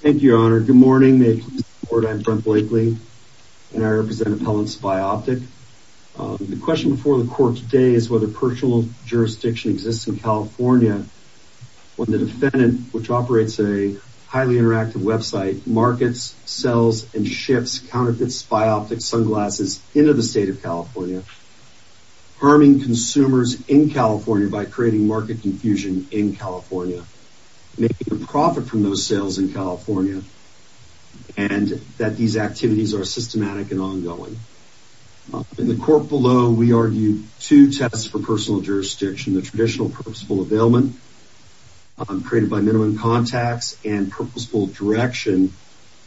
Thank you, Your Honor. Good morning. May it please the Court, I'm Brent Blakely, and I represent Appellant Spy Optic. The question before the Court today is whether personal jurisdiction exists in California when the defendant, which operates a highly interactive website, markets, sells, and ships counterfeit spy optics sunglasses into the state of California, harming consumers in California by creating market confusion in California. Making a profit from those sales in California, and that these activities are systematic and ongoing. In the Court below, we argued two tests for personal jurisdiction. The traditional purposeful availment, created by minimum contacts, and purposeful direction,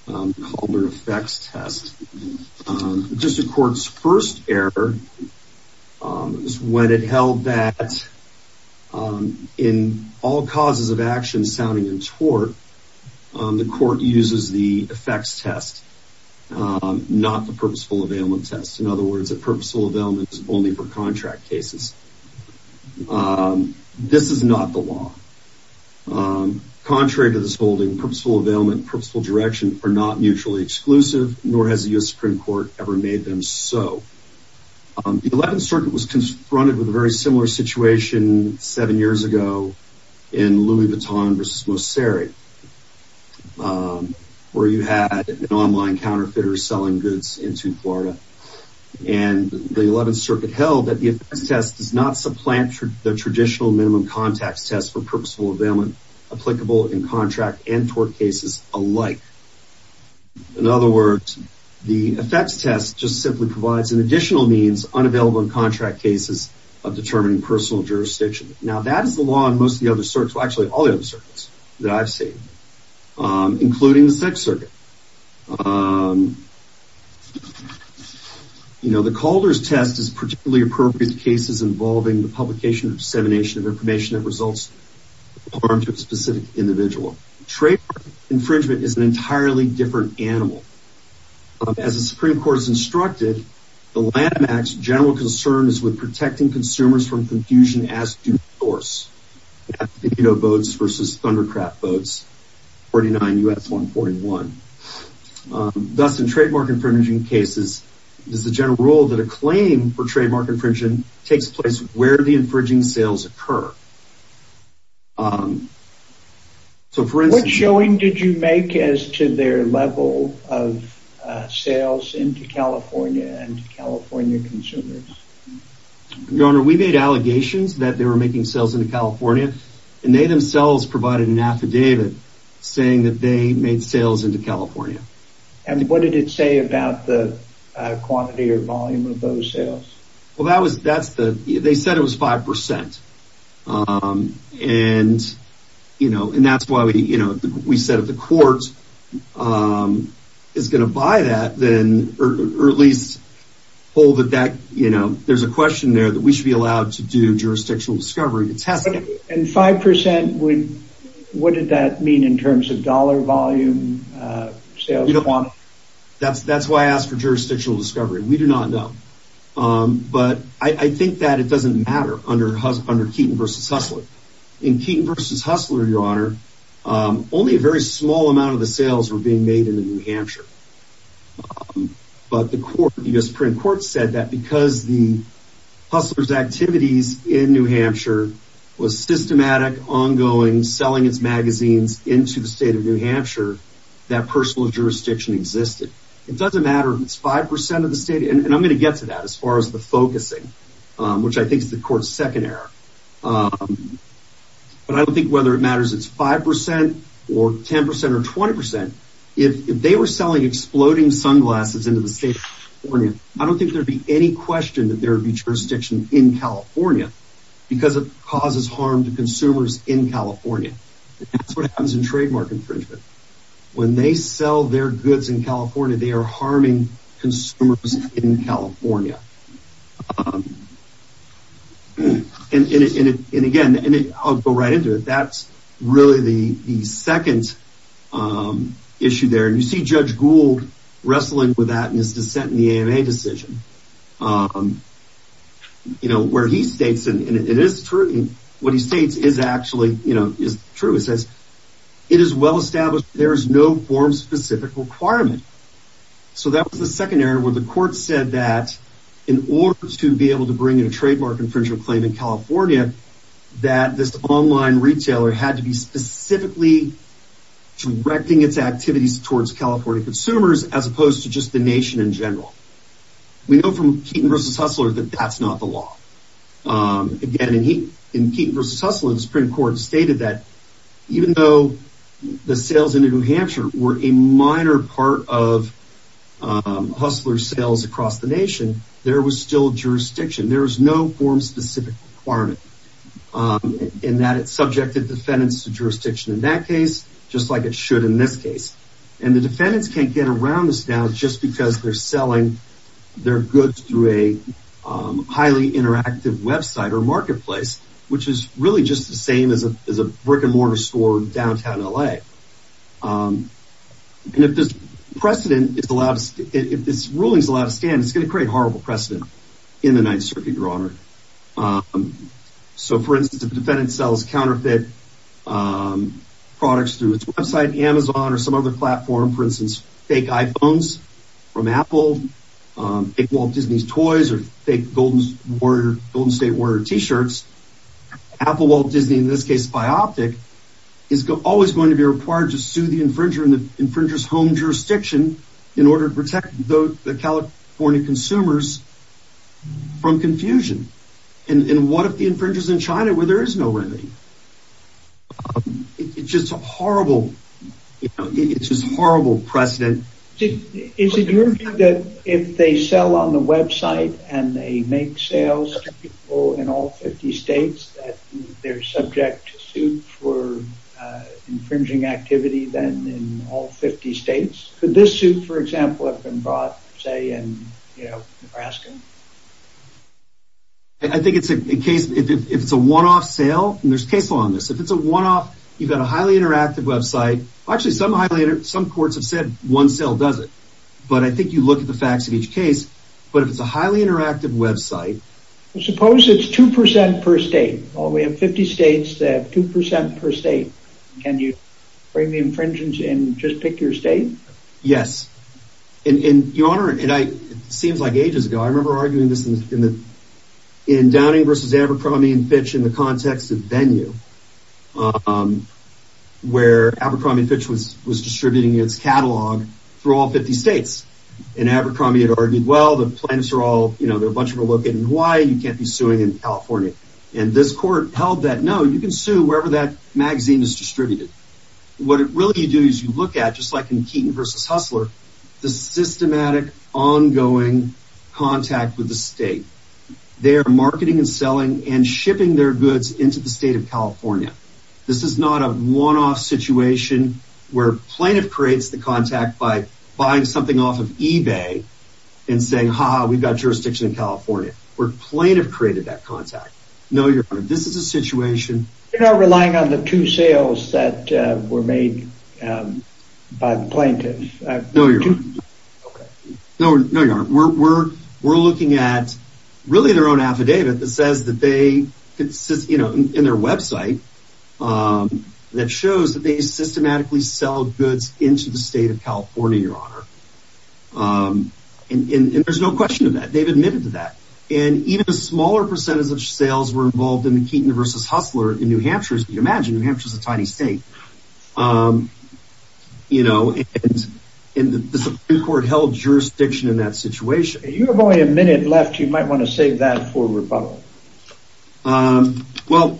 called an effects test. The District Court's first error is when it held that, in all causes of action sounding in tort, the Court uses the effects test, not the purposeful availment test. In other words, a purposeful availment is only for contract cases. This is not the law. Contrary to this holding, purposeful availment and purposeful direction are not mutually exclusive, nor has the U.S. Supreme Court ever made them so. The Eleventh Circuit was confronted with a very similar situation seven years ago in Louis Vuitton v. Mosseri, where you had an online counterfeiter selling goods into Florida. The Eleventh Circuit held that the effects test does not supplant the traditional minimum contacts test for purposeful availment, applicable in contract and tort cases alike. In other words, the effects test just simply provides an additional means, unavailable in contract cases, of determining personal jurisdiction. Now, that is the law in most of the other circuits, well, actually, all the other circuits that I've seen, including the Sixth Circuit. The Calder's test is particularly appropriate in cases involving the publication and dissemination of information that results in harm to a specific individual. Traitor infringement is an entirely different animal. As the Supreme Court has instructed, the Lanham Act's general concern is with protecting consumers from confusion as due to force. Thus, in trademark infringement cases, it is the general rule that a claim for trademark infringement takes place where the infringing sales occur. What showing did you make as to their level of sales into California and California consumers? Your Honor, we made allegations that they were making sales into California, and they themselves provided an affidavit saying that they made sales into California. And what did it say about the quantity or volume of those sales? Well, they said it was 5%, and that's why we said if the court is going to buy that, or at least hold that there's a question there that we should be allowed to do jurisdictional discovery to test it. And 5%, what did that mean in terms of dollar volume sales? That's why I asked for jurisdictional discovery. We do not know. But I think that it doesn't matter under Keaton v. Hustler. In Keaton v. Hustler, Your Honor, only a very small amount of the sales were being made into New Hampshire. But the U.S. Supreme Court said that because the Hustler's activities in New Hampshire was systematic, ongoing, selling its magazines into the state of New Hampshire, that personal jurisdiction existed. It doesn't matter if it's 5% of the state, and I'm going to get to that as far as the focusing, which I think is the court's second error. But I don't think whether it matters it's 5% or 10% or 20%. If they were selling exploding sunglasses into the state of California, I don't think there would be any question that there would be jurisdiction in California because it causes harm to consumers in California. That's what happens in trademark infringement. When they sell their goods in California, they are harming consumers in California. And again, I'll go right into it. That's really the second issue there. You see Judge Gould wrestling with that in his dissent in the AMA decision. What he states is actually true. It says, it is well established there is no form-specific requirement. So that was the second error where the court said that in order to be able to bring in a trademark infringement claim in California, that this online retailer had to be specifically directing its activities towards California consumers as opposed to just the nation in general. We know from Keaton v. Hustler that that's not the law. Again, in Keaton v. Hustler, the Supreme Court stated that even though the sales into New Hampshire were a minor part of Hustler sales across the nation, there was still jurisdiction. There was no form-specific requirement in that it subjected defendants to jurisdiction in that case, just like it should in this case. And the defendants can't get around this now just because they're selling their goods through a highly interactive website or marketplace, which is really just the same as a brick-and-mortar store in downtown LA. And if this ruling is allowed to stand, it's going to create horrible precedent in the Ninth Circuit, Your Honor. So, for instance, if a defendant sells counterfeit products through its website, Amazon, or some other platform, for instance, fake iPhones from Apple, fake Walt Disney toys, or fake Golden State Warrior t-shirts, Apple, Walt Disney, in this case, SpyOptic, is always going to be required to sue the infringer in the infringer's home jurisdiction in order to protect the California consumers from confusion. And what if the infringer's in China where there is no remedy? It's just a horrible precedent. Is it your view that if they sell on the website and they make sales to people in all 50 states, that they're subject to suit for infringing activity then in all 50 states? Could this suit, for example, have been brought, say, in Nebraska? I think if it's a one-off sale, and there's case law on this, if it's a one-off, you've got a highly interactive website. Actually, some courts have said one sale does it. But I think you look at the facts of each case. But if it's a highly interactive website... Suppose it's 2% per state. Well, we have 50 states that have 2% per state. Can you frame the infringement and just pick your state? Yes. Your Honor, and it seems like ages ago, I remember arguing this in Downing v. Abercrombie & Fitch in the context of Venue, where Abercrombie & Fitch was distributing its catalog through all 50 states. And Abercrombie had argued, well, the plaintiffs are all... They're a bunch of relocated in Hawaii. You can't be suing in California. And this court held that, no, you can sue wherever that magazine is distributed. What really you do is you look at, just like in Keaton v. Hustler, the systematic, ongoing contact with the state. They are marketing and selling and shipping their goods into the state of California. This is not a one-off situation where plaintiff creates the contact by buying something off of eBay and saying, ha-ha, we've got jurisdiction in California, where plaintiff created that contact. No, Your Honor, this is a situation... ...that were made by the plaintiffs. No, Your Honor. Okay. No, Your Honor, we're looking at, really, their own affidavit that says that they, you know, in their website, that shows that they systematically sell goods into the state of California, Your Honor. And there's no question of that. They've admitted to that. And even a smaller percentage of sales were involved in the Keaton v. Hustler in New Hampshire. As you can imagine, New Hampshire is a tiny state. You know, and the Supreme Court held jurisdiction in that situation. You have only a minute left. You might want to save that for rebuttal. Well,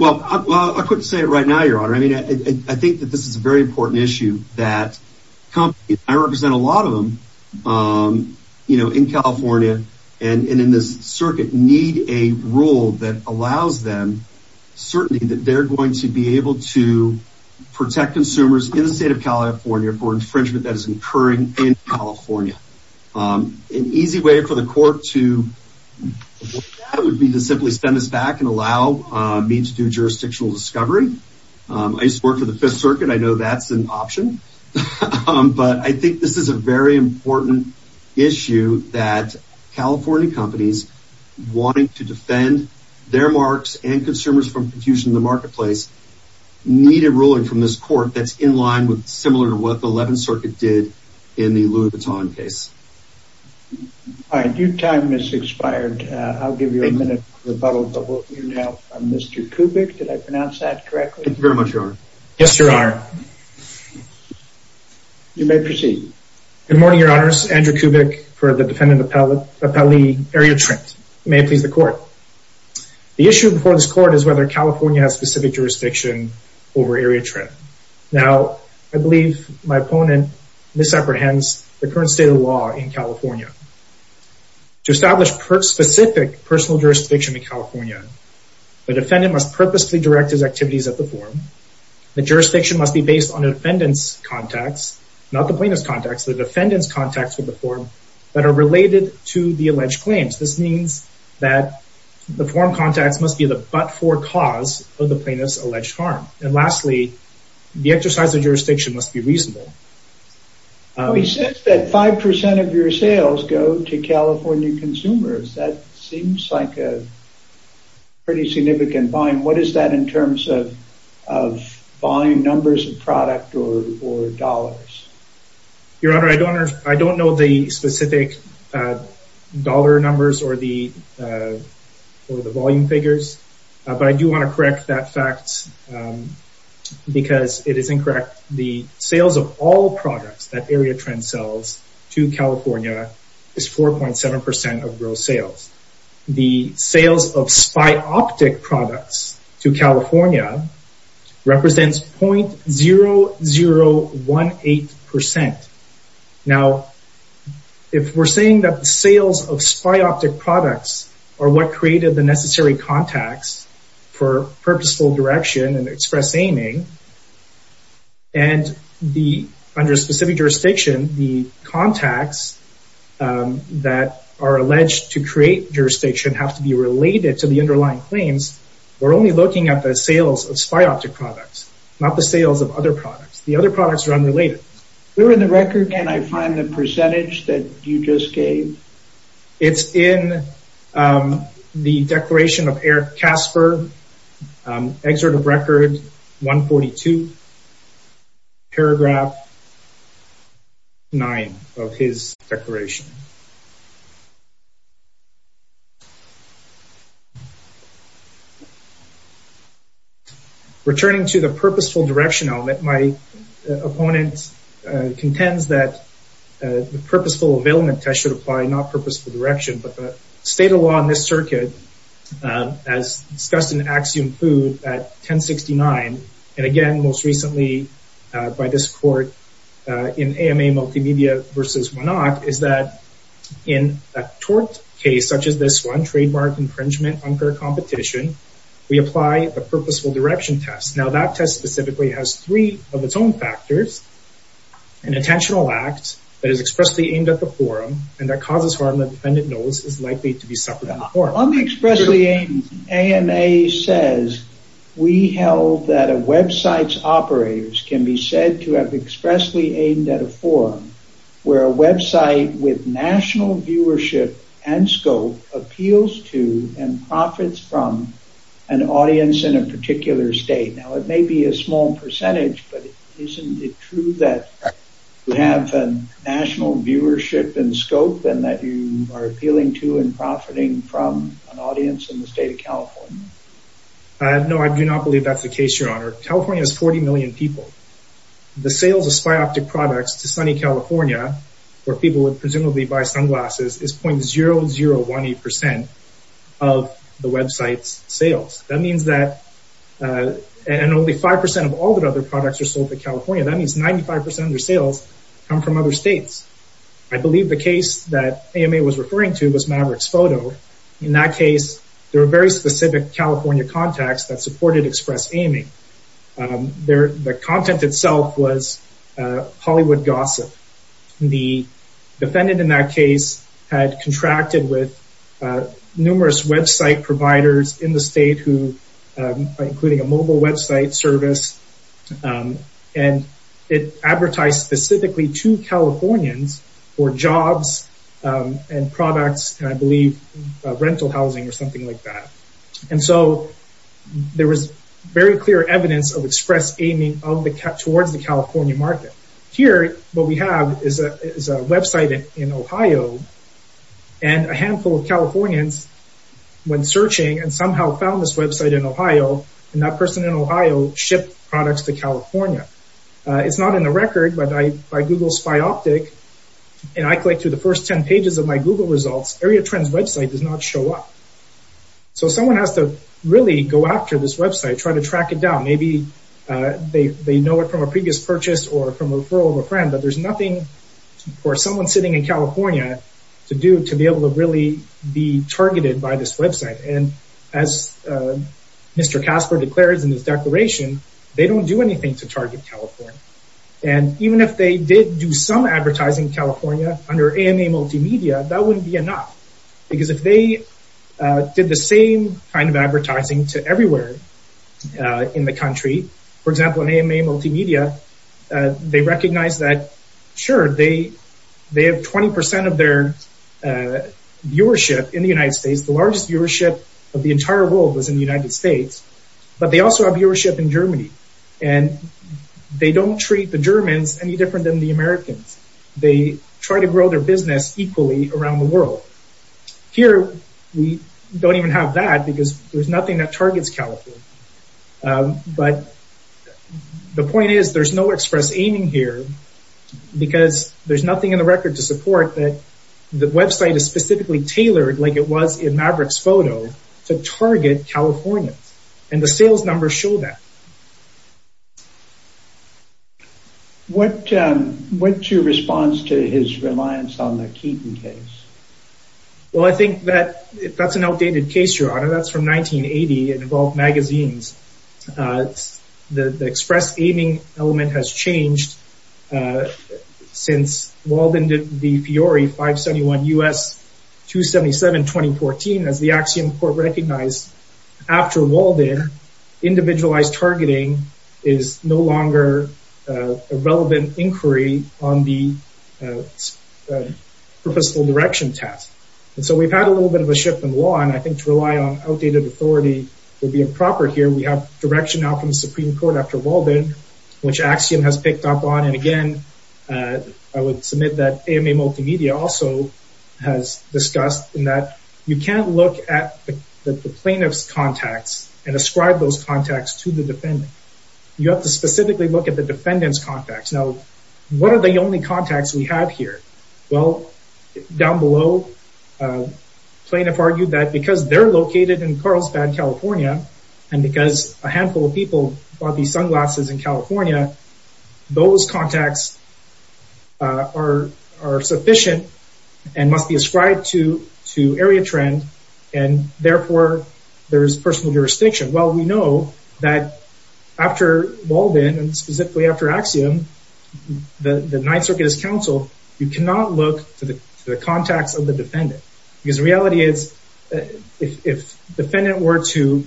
I couldn't say it right now, Your Honor. I mean, I think that this is a very important issue that companies, and I represent a lot of them, you know, in California and in this circuit, need a rule that allows them certainty that they're going to be able to protect consumers in the state of California for infringement that is occurring in California. An easy way for the court to avoid that would be to simply send us back and allow me to do jurisdictional discovery. I used to work for the Fifth Circuit. I know that's an option. But I think this is a very important issue that California companies wanting to defend their marks and consumers from confusion in the marketplace need a ruling from this court that's in line with similar to what the Eleventh Circuit did in the Louis Vuitton case. All right, your time has expired. I'll give you a minute for rebuttal, but we'll hear now from Mr. Kubik. Did I pronounce that correctly? Thank you very much, Your Honor. Yes, Your Honor. You may proceed. Good morning, Your Honors. Andrew Kubik for the Defendant Appellee, Area Trent. May it please the Court. The issue before this Court is whether California has specific jurisdiction over Area Trent. Now, I believe my opponent misapprehends the current state of law in California. To establish specific personal jurisdiction in California, the defendant must purposely direct his activities at the forum. The jurisdiction must be based on the defendant's contacts, not the plaintiff's contacts, the defendant's contacts with the forum that are related to the alleged claims. This means that the forum contacts must be the but-for cause of the plaintiff's alleged harm. And lastly, the exercise of jurisdiction must be reasonable. He says that 5% of your sales go to California consumers. That seems like a pretty significant volume. What is that in terms of volume numbers of product or dollars? Your Honor, I don't know the specific dollar numbers or the volume figures, but I do want to correct that fact because it is incorrect. The sales of all products that Area Trent sells to California is 4.7% of gross sales. The sales of SpyOptic products to California represents .0018%. Now, if we're saying that the sales of SpyOptic products are what created the necessary contacts for purposeful direction and express aiming, and under a specific jurisdiction, the contacts that are alleged to create jurisdiction have to be related to the underlying claims, we're only looking at the sales of SpyOptic products, not the sales of other products. The other products are unrelated. Where in the record can I find the percentage that you just gave? It's in the declaration of Eric Casper, Excerpt of Record 142, paragraph 9 of his declaration. Returning to the purposeful direction element, my opponent contends that the purposeful availment test should apply not purposeful direction, but the state of law in this circuit, as discussed in Axiom Food at 1069, and again most recently by this court in AMA Multimedia v. Monarch, is that in a tort case such as this one, trademark infringement, unfair competition, we apply the purposeful direction test. Now that test specifically has three of its own factors, an intentional act that is expressly aimed at the forum, and that causes harm that the defendant knows is likely to be suffered at the forum. On the expressly aimed, AMA says we held that a website's operators can be said to have expressly aimed at a forum where a website with national viewership and scope appeals to and profits from an audience in a particular state. Now it may be a small percentage, but isn't it true that you have a national viewership and scope and that you are appealing to and profiting from an audience in the state of California? No, I do not believe that's the case, your honor. California has 40 million people. The sales of spy optic products to sunny California, where people would presumably buy sunglasses, is .0018% of the website's sales. That means that, and only 5% of all the other products are sold in California, that means 95% of their sales come from other states. I believe the case that AMA was referring to was Maverick's Photo. In that case, there were very specific California contacts that supported express aiming. The content itself was Hollywood gossip. The defendant in that case had contracted with numerous website providers in the state, including a mobile website service, and it advertised specifically to Californians for jobs and products, and I believe rental housing or something like that. And so there was very clear evidence of express aiming towards the California market. Here, what we have is a website in Ohio, and a handful of Californians went searching and somehow found this website in Ohio, and that person in Ohio shipped products to California. It's not in the record, but by Google Spy Optic, and I clicked through the first 10 pages of my Google results, Area Trend's website does not show up. So someone has to really go after this website, try to track it down. Maybe they know it from a previous purchase or from a referral of a friend, but there's nothing for someone sitting in California to do to be able to really be targeted by this website. And as Mr. Casper declares in his declaration, they don't do anything to target California. And even if they did do some advertising in California under AMA Multimedia, that wouldn't be enough, because if they did the same kind of advertising to everywhere in the country, for example, in AMA Multimedia, they recognize that, sure, they have 20% of their viewership in the United States. The largest viewership of the entire world was in the United States, but they also have viewership in Germany. And they don't treat the Germans any different than the Americans. They try to grow their business equally around the world. Here, we don't even have that, because there's nothing that targets California. But the point is, there's no express aiming here, because there's nothing in the record to support that the website is specifically tailored like it was in Maverick's photo to target California. And the sales numbers show that. What's your response to his reliance on the Keaton case? Well, I think that that's an outdated case, Your Honor. That's from 1980. It involved magazines. The express aiming element has changed since Walden did the Fiore 571 U.S. 277 2014. As the Axiom Court recognized, after Walden, individualized targeting is no longer a relevant inquiry on the purposeful direction test. And so we've had a little bit of a shift in law. And I think to rely on outdated authority would be improper here. We have direction now from the Supreme Court after Walden, which Axiom has picked up on. And again, I would submit that AMA Multimedia also has discussed that you can't look at the plaintiff's contacts and ascribe those contacts to the defendant. You have to specifically look at the defendant's contacts. Now, what are the only contacts we have here? Well, down below, plaintiff argued that because they're located in Carlsbad, California, and because a handful of people bought these sunglasses in California, those contacts are sufficient and must be ascribed to area trend. And therefore, there is personal jurisdiction. Well, we know that after Walden, and specifically after Axiom, the Ninth Circuit as counsel, you cannot look to the contacts of the defendant. Because the reality is, if the defendant were to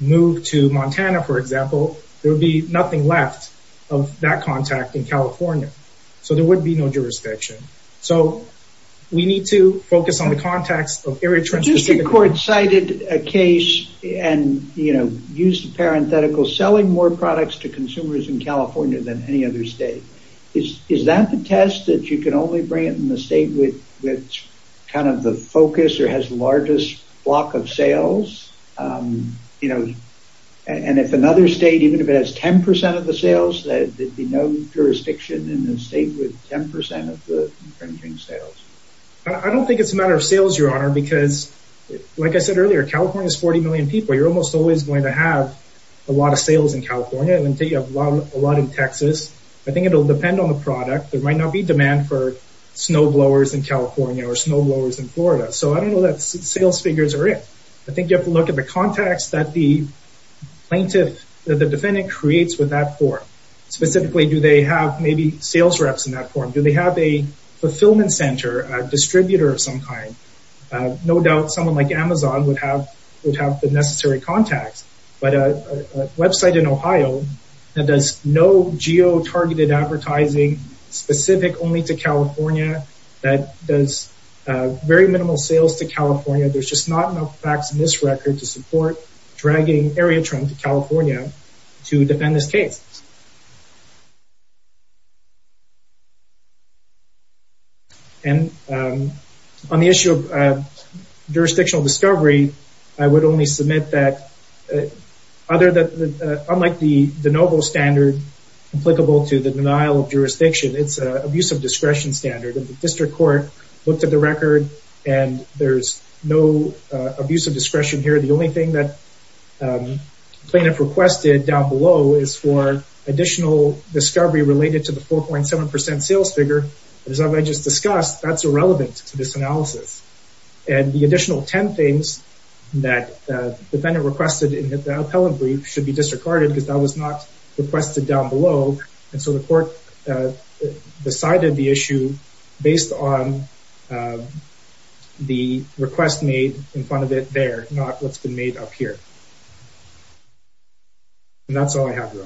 move to Montana, for example, there would be nothing left of that contact in California. So there would be no jurisdiction. So we need to focus on the contacts of area trends. The district court cited a case and used the parenthetical, selling more products to consumers in California than any other state. Is that the test, that you can only bring it in the state with kind of the focus or has the largest block of sales? And if another state, even if it has 10% of the sales, there would be no jurisdiction in the state with 10% of the infringing sales. I don't think it's a matter of sales, Your Honor, because like I said earlier, California is 40 million people. You're almost always going to have a lot of sales in California and a lot in Texas. I think it will depend on the product. There might not be demand for snowblowers in California or snowblowers in Florida. So I don't know that sales figures are in. I think you have to look at the contacts that the plaintiff, that the defendant creates with that form. Specifically, do they have maybe sales reps in that form? Do they have a fulfillment center, a distributor of some kind? No doubt someone like Amazon would have the necessary contacts, but a website in Ohio that does no geo-targeted advertising specific only to California, that does very minimal sales to California. There's just not enough facts in this record to support dragging area Trump to California to defend this case. And on the issue of jurisdictional discovery, I would only submit that unlike the de novo standard applicable to the denial of jurisdiction, it's an abuse of discretion standard. The district court looked at the record and there's no abuse of discretion here. The only thing that plaintiff requested down below is for additional discovery related to the 4.7 percent sales figure. As I just discussed, that's irrelevant to this analysis. And the additional 10 things that the defendant requested in the appellate brief should be disregarded because that was not requested down below. And so the court decided the issue based on the request made in front of it there, not what's been made up here. And that's all I have.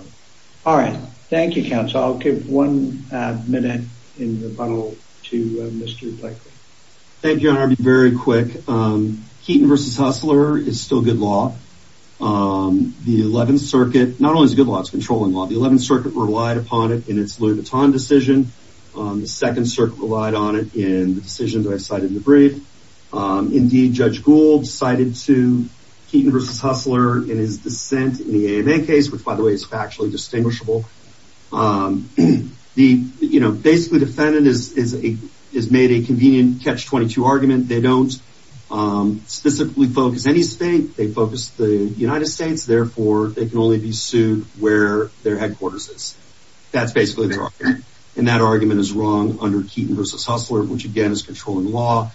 All right. Thank you, counsel. I'll give one minute in rebuttal to Mr. Blakely. Thank you, Your Honor. I'll be very quick. Keaton v. Hustler is still good law. The 11th Circuit, not only is it good law, it's controlling law. The 11th Circuit relied upon it in its Louis Vuitton decision. The 2nd Circuit relied on it in the decision that I cited in the brief. Indeed, Judge Gould cited to Keaton v. Hustler in his dissent in the AMA case, which, by the way, is factually distinguishable. Basically, the defendant has made a convenient catch-22 argument. They don't specifically focus any state. They focus the United States. Therefore, they can only be sued where their headquarters is. That's basically their argument. And that argument is wrong under Keaton v. Hustler, which, again, is controlling law.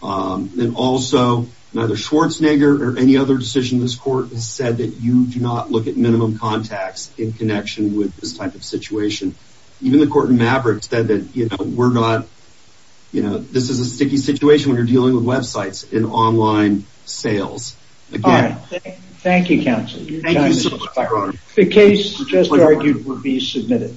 And also, neither Schwarzenegger or any other decision in this court has said that you do not look at minimum contacts in connection with this type of situation. Even the court in Maverick said that, you know, we're not, you know, this is a sticky situation when you're dealing with websites and online sales. All right. Thank you, counsel. Thank you so much, Your Honor. The case just argued will be submitted.